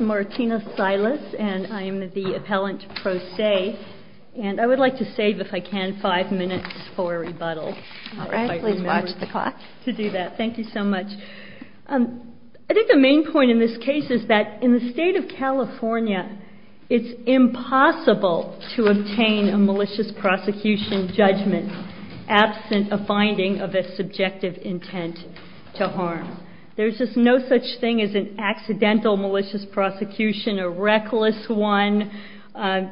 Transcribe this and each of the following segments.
Martina Silas v. Appellant Pro Se I would like to save, if I can, five minutes for rebuttal. All right. Please watch the clock. To do that. Thank you so much. I think the main point in this case is that in the state of California, it's impossible to obtain a malicious prosecution judgment absent a finding of a subjective intent to harm. There's just no such thing as an accidental malicious prosecution, a reckless one.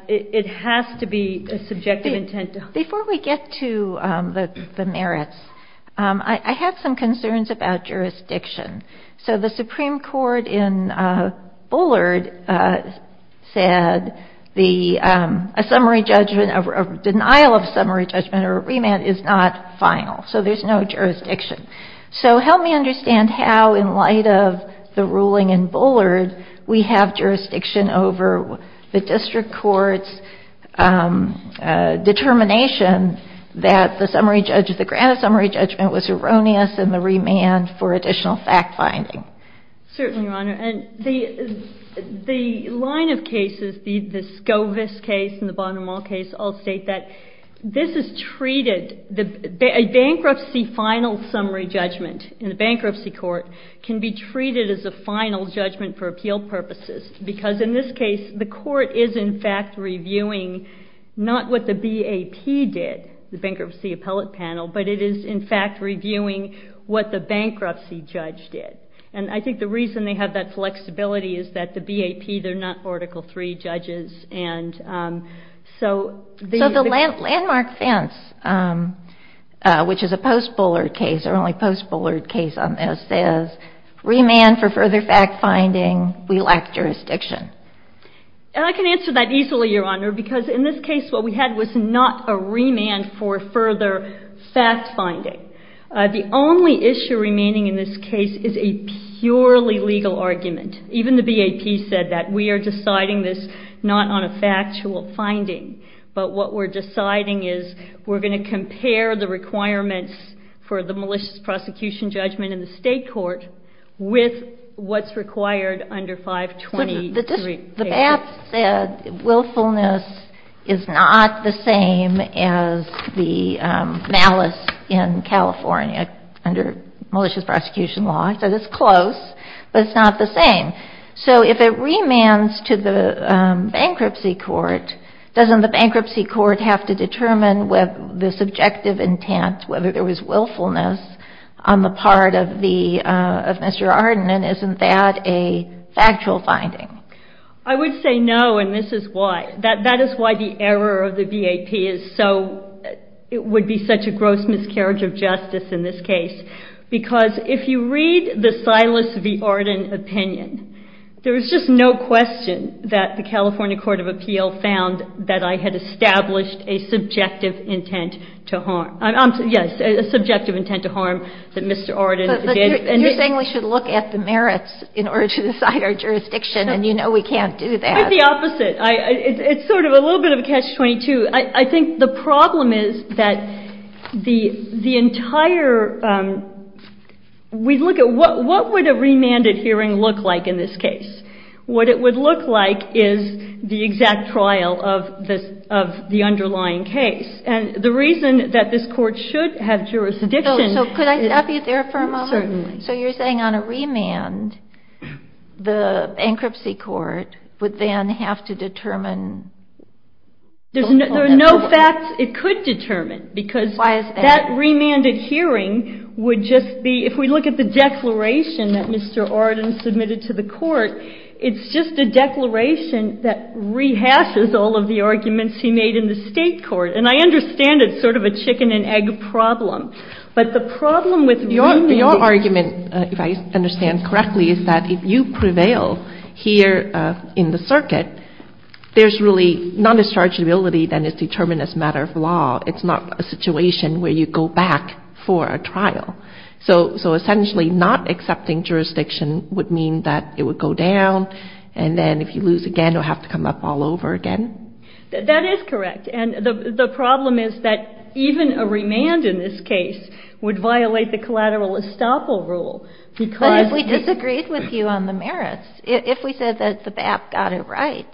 It has to be a subjective intent to harm. Before we get to the merits, I have some concerns about jurisdiction. So the Supreme Court in Bullard said a denial of summary judgment or remand is not final. So there's no jurisdiction. So help me understand how, in light of the ruling in Bullard, we have jurisdiction over the district court's determination that the grant of summary judgment was erroneous and the remand for additional fact-finding. Certainly, Your Honor. And the line of cases, the Scovus case and the Bonham Hall case, all state that this is treated, a bankruptcy final summary judgment in a bankruptcy court can be treated as a final judgment for appeal purposes. Because in this case, the court is, in fact, reviewing not what the BAP did, the Bankruptcy Appellate Panel, but it is, in fact, reviewing what the bankruptcy judge did. And I think the reason they have that flexibility is that the BAP, they're not Article III judges. And so the landmark fence, which is a post-Bullard case or only post-Bullard case on this, says remand for further fact-finding, we lack jurisdiction. And I can answer that easily, Your Honor, because in this case what we had was not a remand for further fact-finding. The only issue remaining in this case is a purely legal argument. Even the BAP said that. We are deciding this not on a factual finding, but what we're deciding is we're going to compare the requirements for the malicious prosecution judgment in the state court with what's required under 523. The BAP said willfulness is not the same as the malice in California under malicious prosecution law. He said it's close, but it's not the same. So if it remands to the bankruptcy court, doesn't the bankruptcy court have to determine whether the subjective intent, whether there was willfulness on the part of Mr. Arden, and isn't that a factual finding? I would say no, and this is why. That is why the error of the BAP would be such a gross miscarriage of justice in this case. Because if you read the Silas v. Arden opinion, there is just no question that the California Court of Appeal found that I had established a subjective intent to harm. Yes, a subjective intent to harm that Mr. Arden did. But you're saying we should look at the merits in order to decide our jurisdiction, and you know we can't do that. Quite the opposite. It's sort of a little bit of a catch-22. I think the problem is that the entire, we look at what would a remanded hearing look like in this case? What it would look like is the exact trial of the underlying case. And the reason that this court should have jurisdiction. So could I stop you there for a moment? Certainly. So you're saying on a remand, the bankruptcy court would then have to determine? There are no facts it could determine because that remanded hearing would just be, if we look at the declaration that Mr. Arden submitted to the court, it's just a declaration that rehashes all of the arguments he made in the state court. And I understand it's sort of a chicken and egg problem. But the problem with remanding. Your argument, if I understand correctly, is that if you prevail here in the circuit, there's really non-dischargeability that is determined as a matter of law. It's not a situation where you go back for a trial. So essentially not accepting jurisdiction would mean that it would go down, and then if you lose again you'll have to come up all over again? That is correct. And the problem is that even a remand in this case would violate the collateral estoppel rule. But if we disagreed with you on the merits, if we said that the BAP got it right,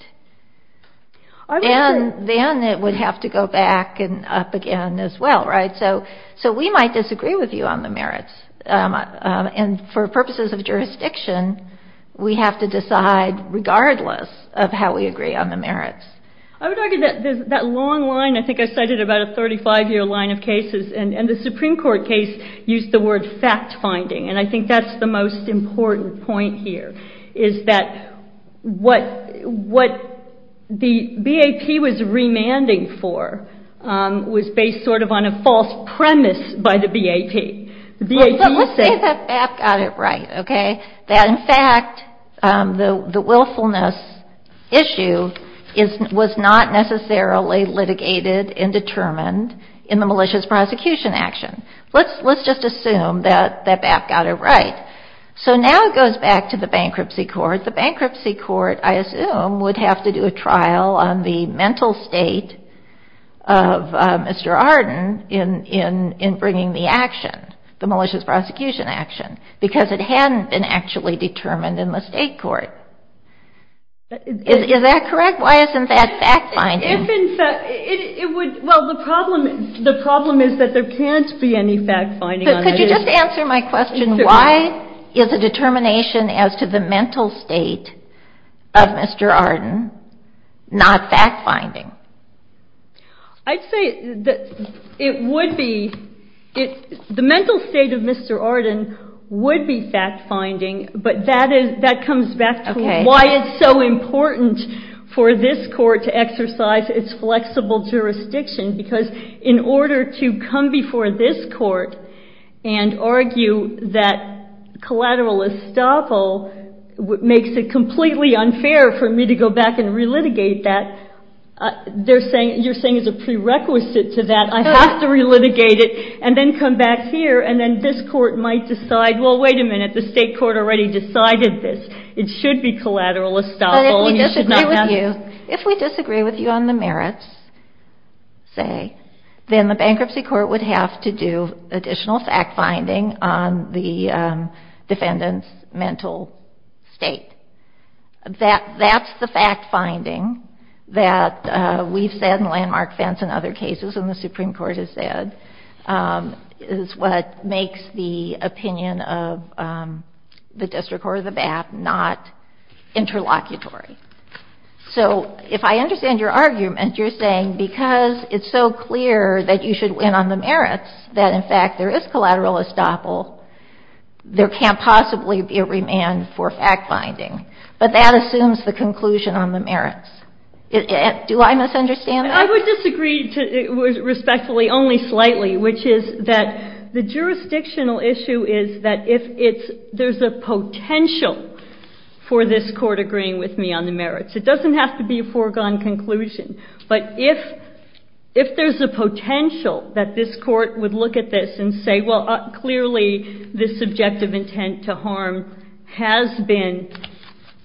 then it would have to go back and up again as well, right? So we might disagree with you on the merits. And for purposes of jurisdiction, we have to decide regardless of how we agree on the merits. I would argue that that long line, I think I cited about a 35-year line of cases, and the Supreme Court case used the word fact-finding, and I think that's the most important point here, is that what the BAP was remanding for was based sort of on a false premise by the BAP. But let's say that BAP got it right, okay, that in fact the willfulness issue was not necessarily litigated and determined in the malicious prosecution action. Let's just assume that BAP got it right. So now it goes back to the bankruptcy court. The bankruptcy court, I assume, would have to do a trial on the mental state of Mr. Arden in bringing the action, the malicious prosecution action, because it hadn't been actually determined in the state court. Is that correct? Why isn't that fact-finding? Well, the problem is that there can't be any fact-finding on it. Could you just answer my question? Why is a determination as to the mental state of Mr. Arden not fact-finding? I'd say that it would be. The mental state of Mr. Arden would be fact-finding, but that comes back to why it's so important for this court to exercise its flexible jurisdiction, because in order to come before this court and argue that collateral estoppel makes it completely unfair for me to go back and relitigate that, you're saying as a prerequisite to that I have to relitigate it and then come back here, and then this court might decide, well, wait a minute, the state court already decided this. It should be collateral estoppel. If we disagree with you on the merits, say, then the bankruptcy court would have to do additional fact-finding on the defendant's mental state. That's the fact-finding that we've said in Landmark Fence and other cases and the Supreme Court has said is what makes the opinion of the district court or the BAP not interlocutory. So if I understand your argument, you're saying because it's so clear that you should win on the merits, that in fact there is collateral estoppel, there can't possibly be a remand for fact-finding, but that assumes the conclusion on the merits. Do I misunderstand that? I would disagree respectfully only slightly, which is that the jurisdictional issue is that if there's a potential for this court agreeing with me on the merits. It doesn't have to be a foregone conclusion, but if there's a potential that this court would look at this and say, well, clearly this subjective intent to harm has been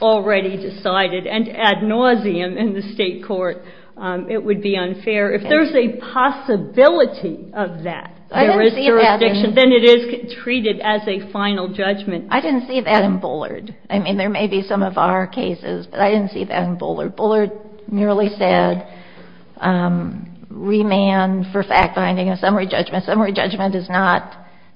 already decided, and ad nauseam in the state court, it would be unfair. If there's a possibility of that, there is jurisdiction, then it is treated as a final judgment. I didn't see that in Bullard. I mean, there may be some of our cases, but I didn't see that in Bullard. Bullard merely said remand for fact-finding and summary judgment.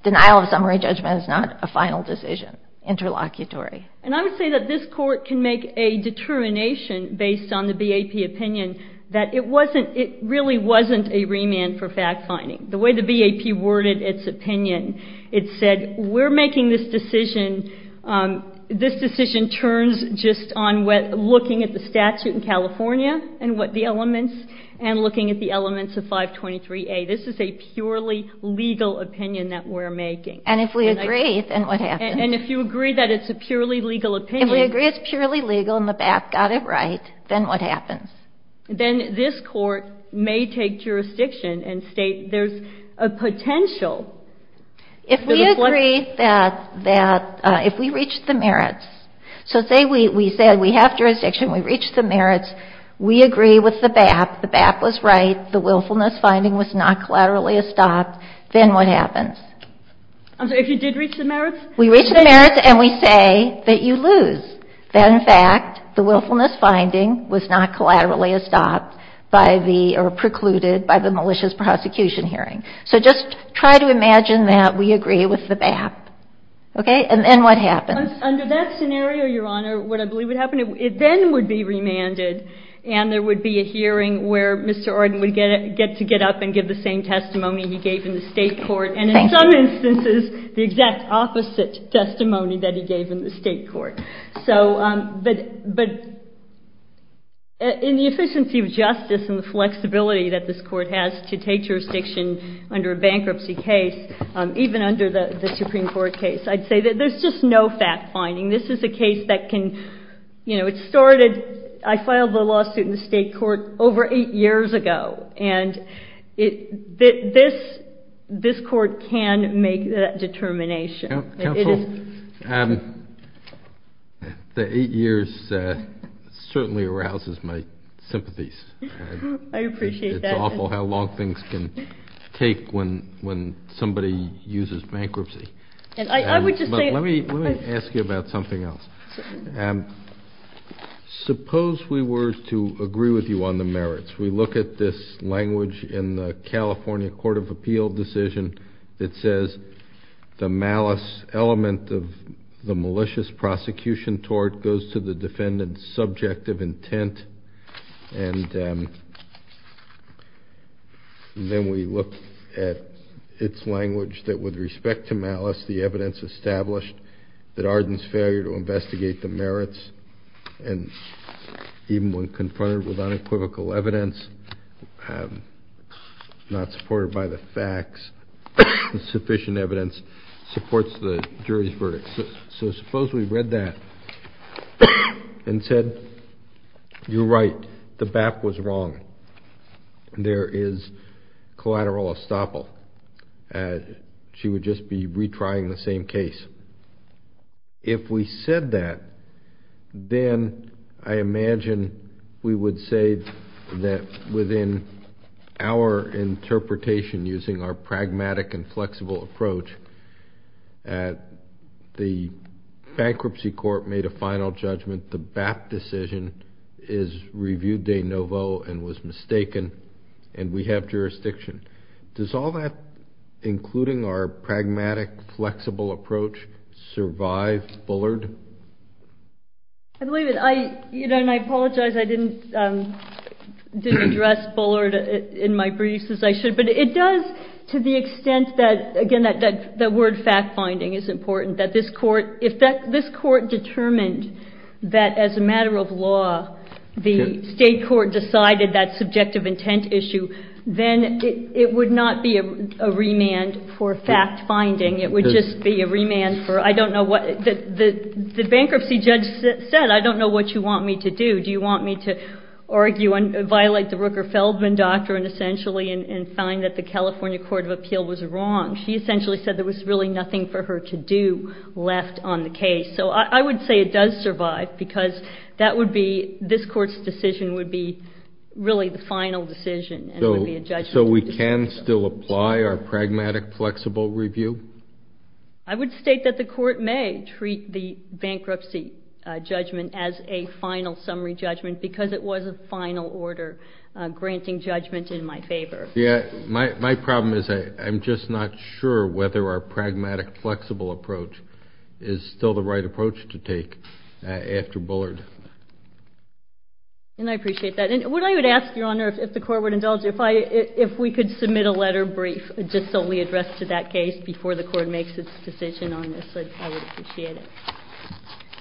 Denial of summary judgment is not a final decision, interlocutory. And I would say that this court can make a determination based on the BAP opinion that it wasn't, it really wasn't a remand for fact-finding. The way the BAP worded its opinion, it said we're making this decision, this decision turns just on looking at the statute in California and what the elements, and looking at the elements of 523A. This is a purely legal opinion that we're making. And if we agree, then what happens? And if you agree that it's a purely legal opinion. If we agree it's purely legal and the BAP got it right, then what happens? Then this court may take jurisdiction and state there's a potential. If we agree that, if we reach the merits, so say we said we have jurisdiction, we reached the merits, we agree with the BAP, the BAP was right, the willfulness finding was not collaterally estopped, then what happens? I'm sorry, if you did reach the merits? We reach the merits and we say that you lose. That in fact the willfulness finding was not collaterally estopped by the, or precluded by the malicious prosecution hearing. So just try to imagine that we agree with the BAP. Okay? And then what happens? Under that scenario, Your Honor, what I believe would happen, it then would be remanded and there would be a hearing where Mr. Arden would get to get up and give the same testimony he gave in the state court. Thank you. In some instances, the exact opposite testimony that he gave in the state court. But in the efficiency of justice and the flexibility that this court has to take jurisdiction under a bankruptcy case, even under the Supreme Court case, I'd say that there's just no fact finding. This is a case that can, you know, it started, I filed the lawsuit in the state court over eight years ago. And this court can make that determination. Counsel, the eight years certainly arouses my sympathies. I appreciate that. It's awful how long things can take when somebody uses bankruptcy. I would just say. Let me ask you about something else. Suppose we were to agree with you on the merits. We look at this language in the California Court of Appeal decision. It says the malice element of the malicious prosecution tort goes to the defendant's subjective intent. And then we look at its language that with respect to malice, the evidence established that Arden's failure to investigate the merits, and even when confronted with unequivocal evidence, not supported by the facts, sufficient evidence, supports the jury's verdict. So suppose we read that and said, you're right, the BAP was wrong. There is collateral estoppel. She would just be retrying the same case. If we said that, then I imagine we would say that within our interpretation using our pragmatic and flexible approach, the bankruptcy court made a final judgment. The BAP decision is review de novo and was mistaken, and we have jurisdiction. Does all that, including our pragmatic, flexible approach, survive Bullard? I believe it. And I apologize I didn't address Bullard in my briefs as I should. But it does to the extent that, again, that word fact-finding is important, that this court determined that as a matter of law, the state court decided that subjective intent issue, then it would not be a remand for fact-finding. It would just be a remand for I don't know what the bankruptcy judge said. I don't know what you want me to do. Do you want me to argue and violate the Rooker-Feldman doctrine, essentially, and find that the California Court of Appeal was wrong? She essentially said there was really nothing for her to do left on the case. So I would say it does survive, because that would be this court's decision would be really the final decision. So we can still apply our pragmatic, flexible review? I would state that the court may treat the bankruptcy judgment as a final summary judgment because it was a final order granting judgment in my favor. My problem is I'm just not sure whether our pragmatic, flexible approach is still the right approach to take after Bullard. And I appreciate that. And what I would ask, Your Honor, if the court would indulge, if we could submit a letter brief just solely addressed to that case before the court makes its decision on this, I would appreciate it.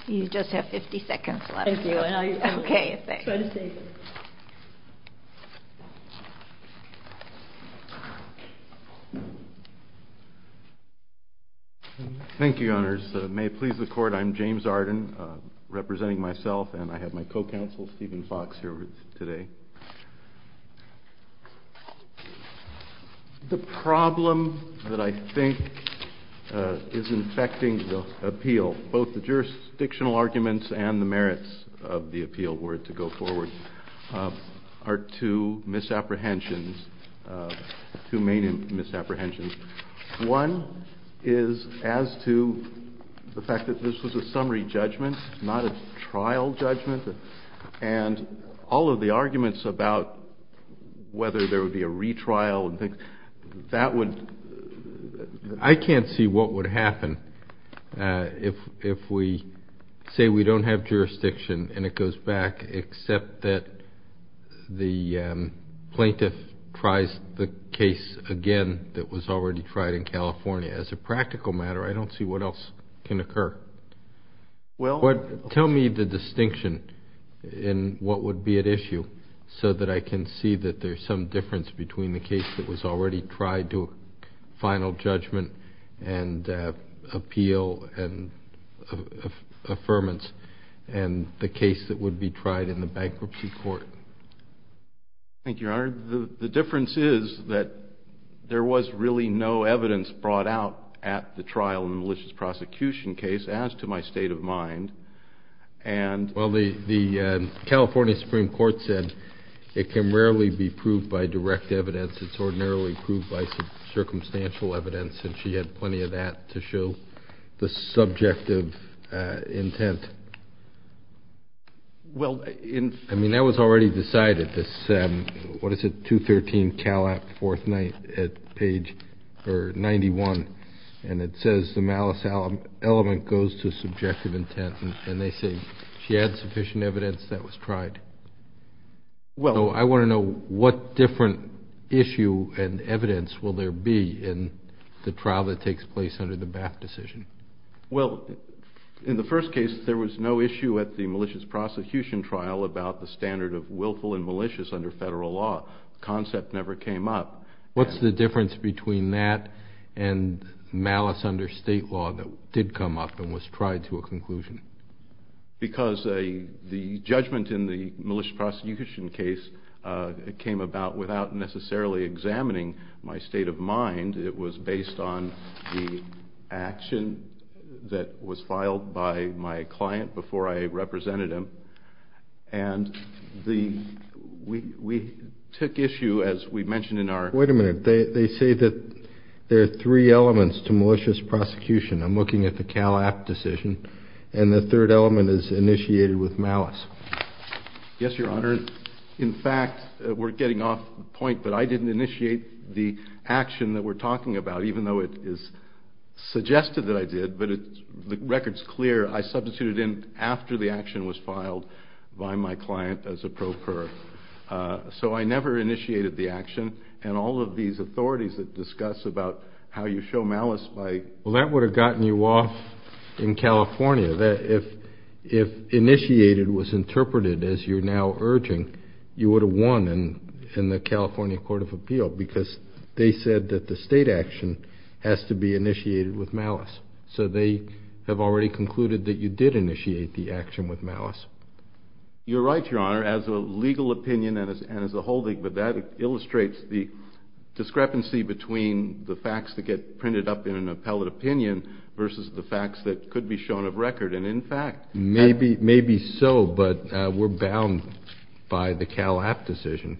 You just have 50 seconds left. Thank you, and I'll try to save it. Thank you. Thank you, Your Honors. May it please the Court, I'm James Arden, representing myself, and I have my co-counsel Stephen Fox here with me today. The problem that I think is infecting the appeal, both the jurisdictional arguments and the merits of the appeal were to go forward, are two misapprehensions, two main misapprehensions. One is as to the fact that this was a summary judgment, not a trial judgment, and all of the arguments about whether there would be a retrial and things, I can't see what would happen if we say we don't have jurisdiction and it goes back, except that the plaintiff tries the case again that was already tried in California. As a practical matter, I don't see what else can occur. Tell me the distinction and what would be at issue so that I can see that there's some difference between the case that was already tried to a final judgment and appeal and affirmance and the case that would be tried in the bankruptcy court. Thank you, Your Honor. The difference is that there was really no evidence brought out at the trial in the malicious prosecution case as to my state of mind. Well, the California Supreme Court said it can rarely be proved by direct evidence. It's ordinarily proved by circumstantial evidence, and she had plenty of that to show the subjective intent. I mean, that was already decided, this, what is it, 213 Calat, 4th night at page 91, and it says the malice element goes to subjective intent, and they say she had sufficient evidence that was tried. So I want to know what different issue and evidence will there be in the trial that takes place under the Bath decision. Well, in the first case, there was no issue at the malicious prosecution trial about the standard of willful and malicious under federal law. The concept never came up. What's the difference between that and malice under state law that did come up and was tried to a conclusion? Because the judgment in the malicious prosecution case came about without necessarily examining my state of mind. It was based on the action that was filed by my client before I represented him, and we took issue, as we mentioned in our... Wait a minute. They say that there are three elements to malicious prosecution. I'm looking at the Calat decision, and the third element is initiated with malice. Yes, Your Honor. In fact, we're getting off point, but I didn't initiate the action that we're talking about, even though it is suggested that I did, but the record's clear. I substituted in after the action was filed by my client as a procurer. So I never initiated the action, and all of these authorities that discuss about how you show malice by... Well, that would have gotten you off in California. If initiated was interpreted as you're now urging, you would have won in the California Court of Appeal because they said that the state action has to be initiated with malice. So they have already concluded that you did initiate the action with malice. You're right, Your Honor, as a legal opinion and as a holding, but that illustrates the discrepancy between the facts that get printed up in an appellate opinion versus the facts that could be shown of record, and in fact... Maybe so, but we're bound by the Calat decision.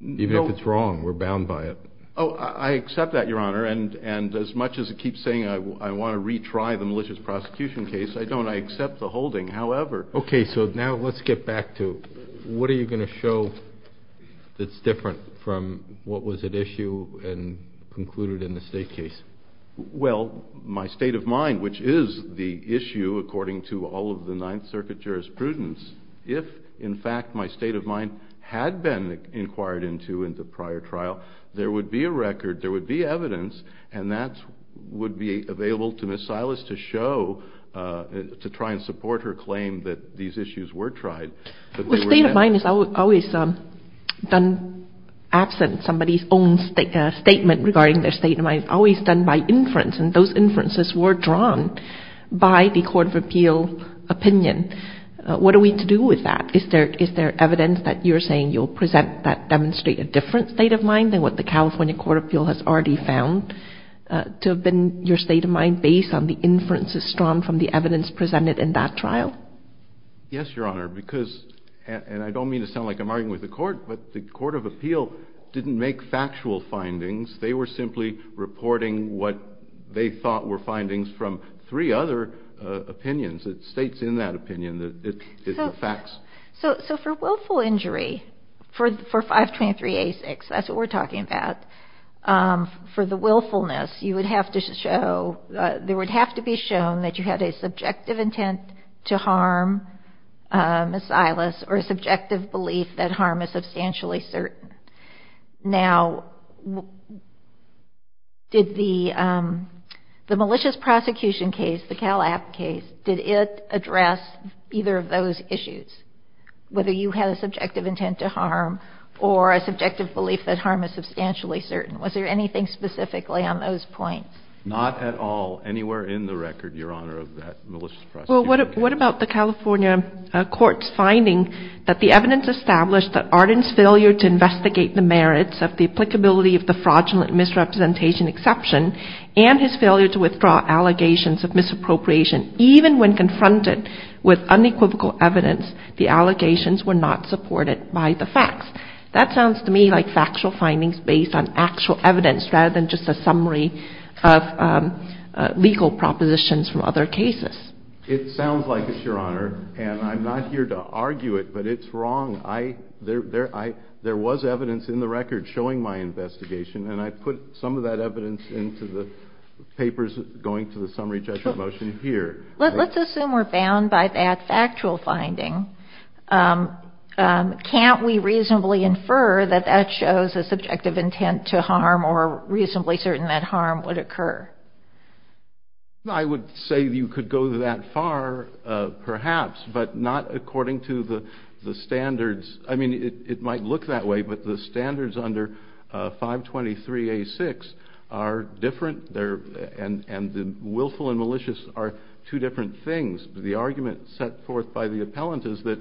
Even if it's wrong, we're bound by it. Oh, I accept that, Your Honor, and as much as I keep saying I want to retry the malicious prosecution case, I don't. I accept the holding, however. Okay, so now let's get back to what are you going to show that's different from what was at issue and concluded in the state case? Well, my state of mind, which is the issue according to all of the Ninth Circuit jurisprudence. If, in fact, my state of mind had been inquired into in the prior trial, there would be a record, there would be evidence, and that would be available to Ms. Silas to show to try and support her claim that these issues were tried. Well, state of mind is always done absent somebody's own statement regarding their state of mind. It's always done by inference, and those inferences were drawn by the court of appeal opinion. What are we to do with that? Is there evidence that you're saying you'll present that demonstrate a different state of mind than what the California court of appeal has already found to have been your state of mind based on the inferences drawn from the evidence presented in that trial? Yes, Your Honor, because, and I don't mean to sound like I'm arguing with the court, but the court of appeal didn't make factual findings. They were simply reporting what they thought were findings from three other opinions. It states in that opinion that it's the facts. So for willful injury, for 523A6, that's what we're talking about, for the willfulness, there would have to be shown that you had a subjective intent to harm Ms. Silas or a subjective belief that harm is substantially certain. Now, did the malicious prosecution case, the Cal App case, did it address either of those issues, whether you had a subjective intent to harm or a subjective belief that harm is substantially certain? Was there anything specifically on those points? Not at all. Anywhere in the record, Your Honor, of that malicious prosecution case. Well, what about the California court's finding that the evidence established that Arden's failure to investigate the merits of the applicability of the fraudulent misrepresentation exception and his failure to withdraw allegations of misappropriation, even when confronted with unequivocal evidence, the allegations were not supported by the facts? That sounds to me like factual findings based on actual evidence rather than just a summary of legal propositions from other cases. It sounds like it, Your Honor, and I'm not here to argue it, but it's wrong. There was evidence in the record showing my investigation, and I put some of that evidence into the papers going to the summary judgment motion here. Let's assume we're bound by that factual finding. Can't we reasonably infer that that shows a subjective intent to harm or reasonably certain that harm would occur? I would say you could go that far, perhaps, but not according to the standards. I mean, it might look that way, but the standards under 523A6 are different, and willful and malicious are two different things. The argument set forth by the appellant is that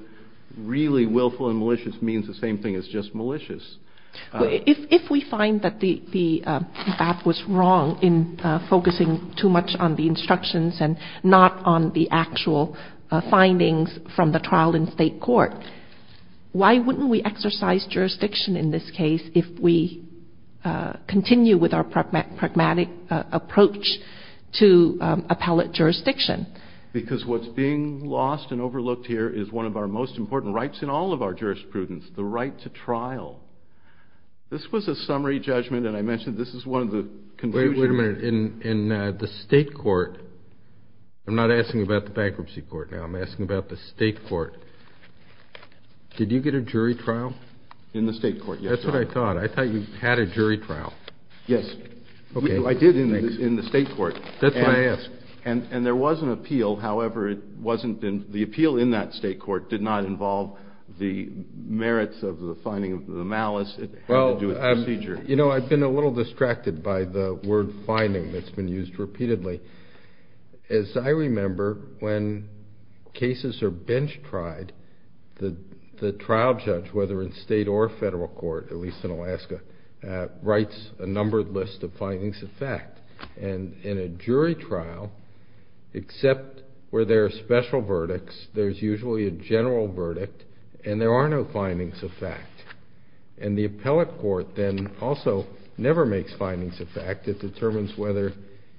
really willful and malicious means the same thing as just malicious. If we find that the BAP was wrong in focusing too much on the instructions and not on the actual findings from the trial in state court, why wouldn't we exercise jurisdiction in this case if we continue with our pragmatic approach to appellate jurisdiction? Because what's being lost and overlooked here is one of our most important rights in all of our jurisprudence, the right to trial. This was a summary judgment, and I mentioned this is one of the conclusions. Wait a minute. In the state court, I'm not asking about the bankruptcy court now. I'm asking about the state court. Did you get a jury trial? In the state court, yes. That's what I thought. I thought you had a jury trial. Yes. Okay. I did in the state court. That's why I asked. And there was an appeal. However, the appeal in that state court did not involve the merits of the finding of the malice. It had to do with procedure. You know, I've been a little distracted by the word finding that's been used repeatedly. As I remember, when cases are bench tried, the trial judge, whether in state or federal court, at least in Alaska, writes a numbered list of findings of fact. And in a jury trial, except where there are special verdicts, there's usually a general verdict, and there are no findings of fact. And the appellate court then also never makes findings of fact. It determines whether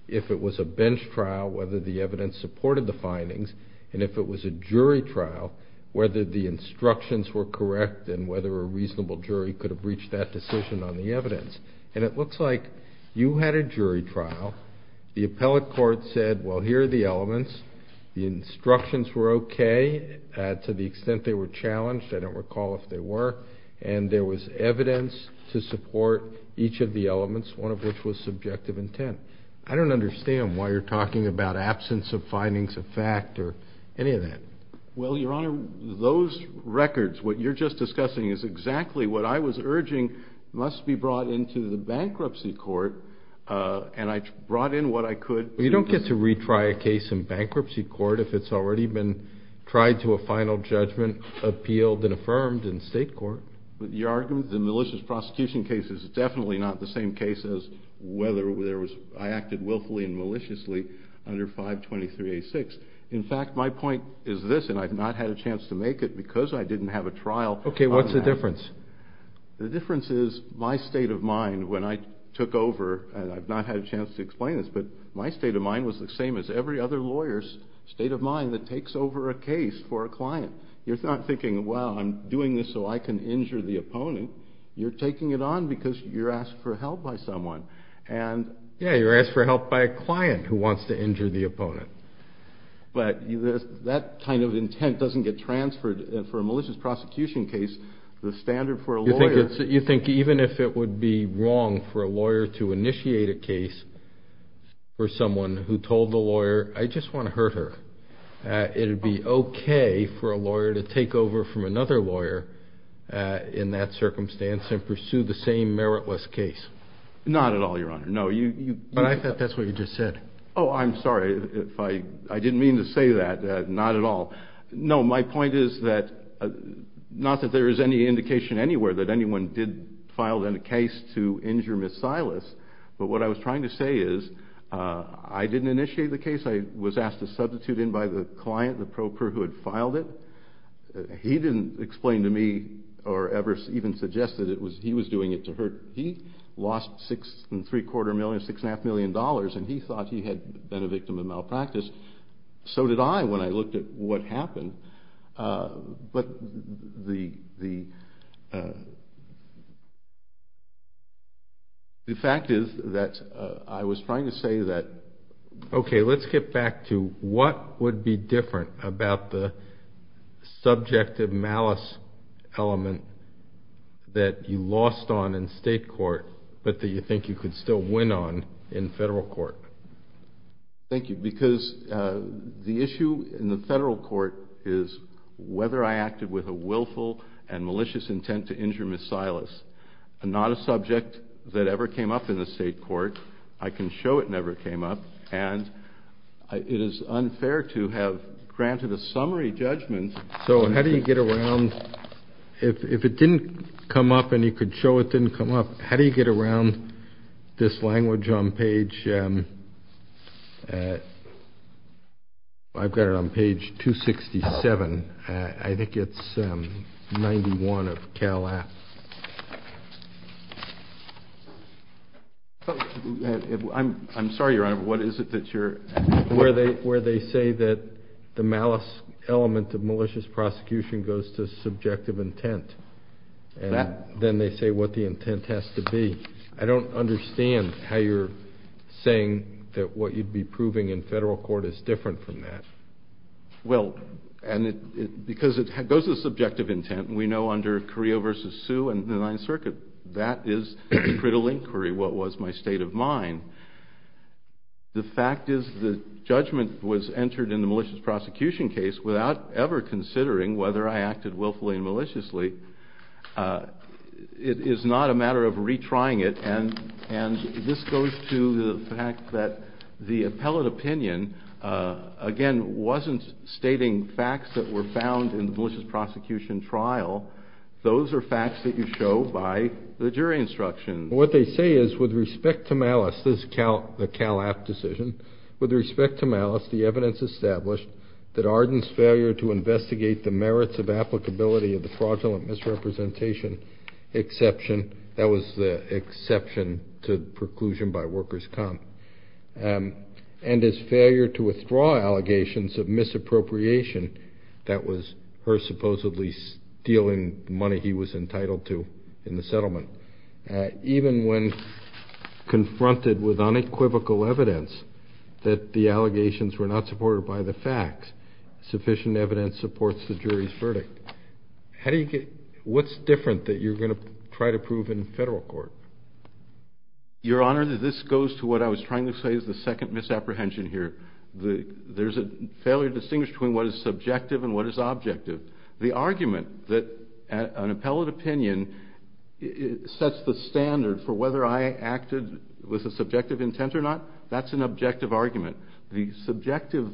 if it was a bench trial, whether the evidence supported the findings, and if it was a jury trial, whether the instructions were correct and whether a reasonable jury could have reached that decision on the evidence. And it looks like you had a jury trial. The appellate court said, well, here are the elements. The instructions were okay to the extent they were challenged. I don't recall if they were. And there was evidence to support each of the elements, one of which was subjective intent. I don't understand why you're talking about absence of findings of fact or any of that. Well, Your Honor, those records, what you're just discussing, is exactly what I was urging must be brought into the bankruptcy court. And I brought in what I could. Well, you don't get to retry a case in bankruptcy court if it's already been tried to a final judgment, appealed and affirmed in state court. But your argument, the malicious prosecution case is definitely not the same case as whether I acted willfully and maliciously under 523A6. In fact, my point is this, and I've not had a chance to make it because I didn't have a trial. Okay, what's the difference? The difference is my state of mind when I took over, and I've not had a chance to explain this, but my state of mind was the same as every other lawyer's state of mind that takes over a case for a client. You're not thinking, well, I'm doing this so I can injure the opponent. You're taking it on because you're asked for help by someone. Yeah, you're asked for help by a client who wants to injure the opponent. But that kind of intent doesn't get transferred for a malicious prosecution case. The standard for a lawyer. You think even if it would be wrong for a lawyer to initiate a case for someone who told the lawyer, I just want to hurt her, it would be okay for a lawyer to take over from another lawyer in that circumstance and pursue the same meritless case? Not at all, Your Honor. No. But I thought that's what you just said. Oh, I'm sorry. I didn't mean to say that. Not at all. No, my point is not that there is any indication anywhere that anyone did file a case to injure Ms. Silas, but what I was trying to say is I didn't initiate the case. I was asked to substitute in by the client, the pro per who had filed it. He didn't explain to me or ever even suggest that he was doing it to her. He lost six and three quarter million, six and a half million dollars, and he thought he had been a victim of malpractice. So did I when I looked at what happened. But the fact is that I was trying to say that. Okay, let's get back to what would be different about the subjective malice element that you lost on in state court but that you think you could still win on in federal court. Thank you, because the issue in the federal court is whether I acted with a willful and malicious intent to injure Ms. Silas. Not a subject that ever came up in the state court. I can show it never came up, and it is unfair to have granted a summary judgment. So how do you get around, if it didn't come up and you could show it didn't come up, how do you get around this language on page, I've got it on page 267. I think it's 91 of Cal Act. I'm sorry, Your Honor, what is it that you're. Where they say that the malice element of malicious prosecution goes to subjective intent. Then they say what the intent has to be. I don't understand how you're saying that what you'd be proving in federal court is different from that. Well, because it goes to subjective intent, and we know under Carrillo v. Sioux and the Ninth Circuit, that is the critical inquiry, what was my state of mind. The fact is the judgment was entered in the malicious prosecution case without ever considering whether I acted willfully and maliciously. It is not a matter of retrying it, and this goes to the fact that the appellate opinion, again, wasn't stating facts that were found in the malicious prosecution trial. Those are facts that you show by the jury instruction. What they say is with respect to malice, this is the Cal Act decision, with respect to malice, the evidence established that Arden's failure to investigate the merits of applicability of the fraudulent misrepresentation exception, that was the exception to preclusion by workers' comp, and his failure to withdraw allegations of misappropriation, that was her supposedly stealing money he was entitled to in the settlement, even when confronted with unequivocal evidence that the allegations were not supported by the facts, sufficient evidence supports the jury's verdict. What's different that you're going to try to prove in federal court? Your Honor, this goes to what I was trying to say is the second misapprehension here. There's a failure to distinguish between what is subjective and what is objective. The argument that an appellate opinion sets the standard for whether I acted with a subjective intent or not, that's an objective argument. The subjective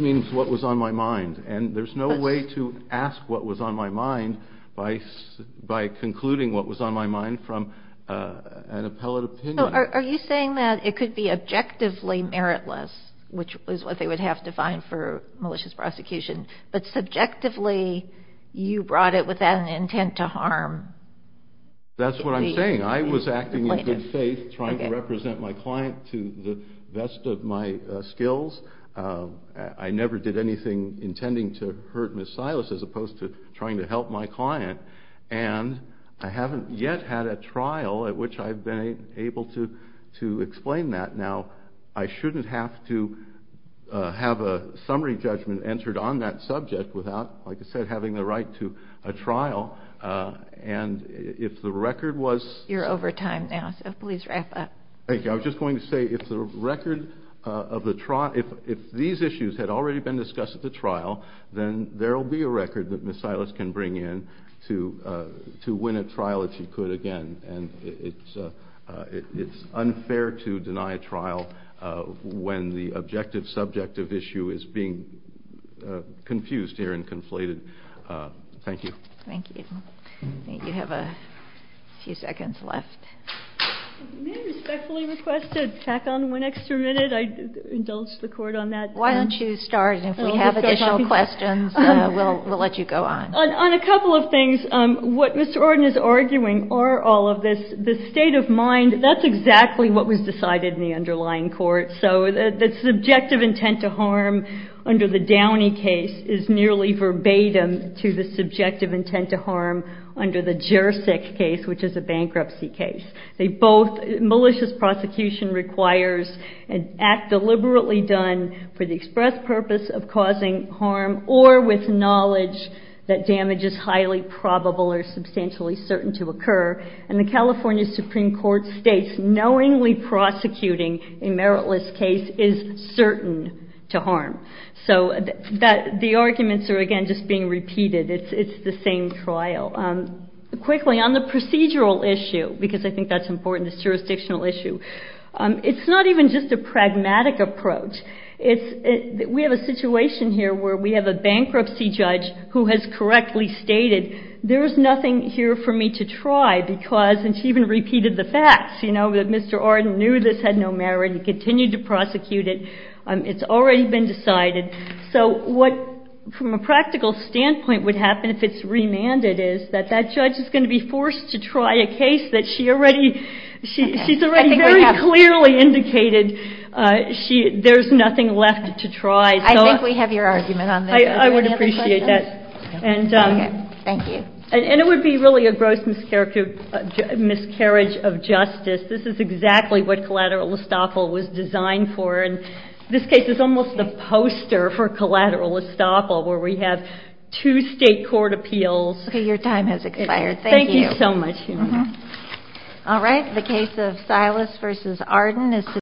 means what was on my mind, and there's no way to ask what was on my mind by concluding what was on my mind from an appellate opinion. So are you saying that it could be objectively meritless, which is what they would have to find for malicious prosecution, but subjectively you brought it with an intent to harm? That's what I'm saying. I was acting in good faith, trying to represent my client to the best of my skills. I never did anything intending to hurt Ms. Silas as opposed to trying to help my client, and I haven't yet had a trial at which I've been able to explain that. Now, I shouldn't have to have a summary judgment entered on that subject without, like I said, having the right to a trial, and if the record was... You're over time now, so please wrap up. Thank you. I was just going to say if these issues had already been discussed at the trial, then there will be a record that Ms. Silas can bring in to win a trial if she could again, and it's unfair to deny a trial when the objective subject of issue is being confused here and conflated. Thank you. Thank you. I think you have a few seconds left. May I respectfully request to tack on one extra minute? I indulge the Court on that. Why don't you start, and if we have additional questions, we'll let you go on. On a couple of things, what Mr. Ordon is arguing are all of this, the state of mind, that's exactly what was decided in the underlying court, so the subjective intent to harm under the Downey case is nearly verbatim to the subjective intent to harm under the Jersick case, which is a bankruptcy case. Malicious prosecution requires an act deliberately done for the express purpose of causing harm or with knowledge that damage is highly probable or substantially certain to occur, and the California Supreme Court states knowingly prosecuting a meritless case is certain to harm. So the arguments are, again, just being repeated. It's the same trial. Quickly, on the procedural issue, because I think that's important, this jurisdictional issue, it's not even just a pragmatic approach. We have a situation here where we have a bankruptcy judge who has correctly stated, there is nothing here for me to try because, and she even repeated the facts, that Mr. Ordon knew this had no merit and continued to prosecute it. It's already been decided. So what, from a practical standpoint, would happen if it's remanded is that that judge is going to be forced to try a case that she already, she's already very clearly indicated there's nothing left to try. I think we have your argument on that. I would appreciate that. Okay. Thank you. And it would be really a gross miscarriage of justice. This is exactly what collateral estoppel was designed for, and this case is almost the poster for collateral estoppel, where we have two state court appeals. Okay. Your time has expired. Thank you. Thank you so much. All right. The case of Silas v. Arden.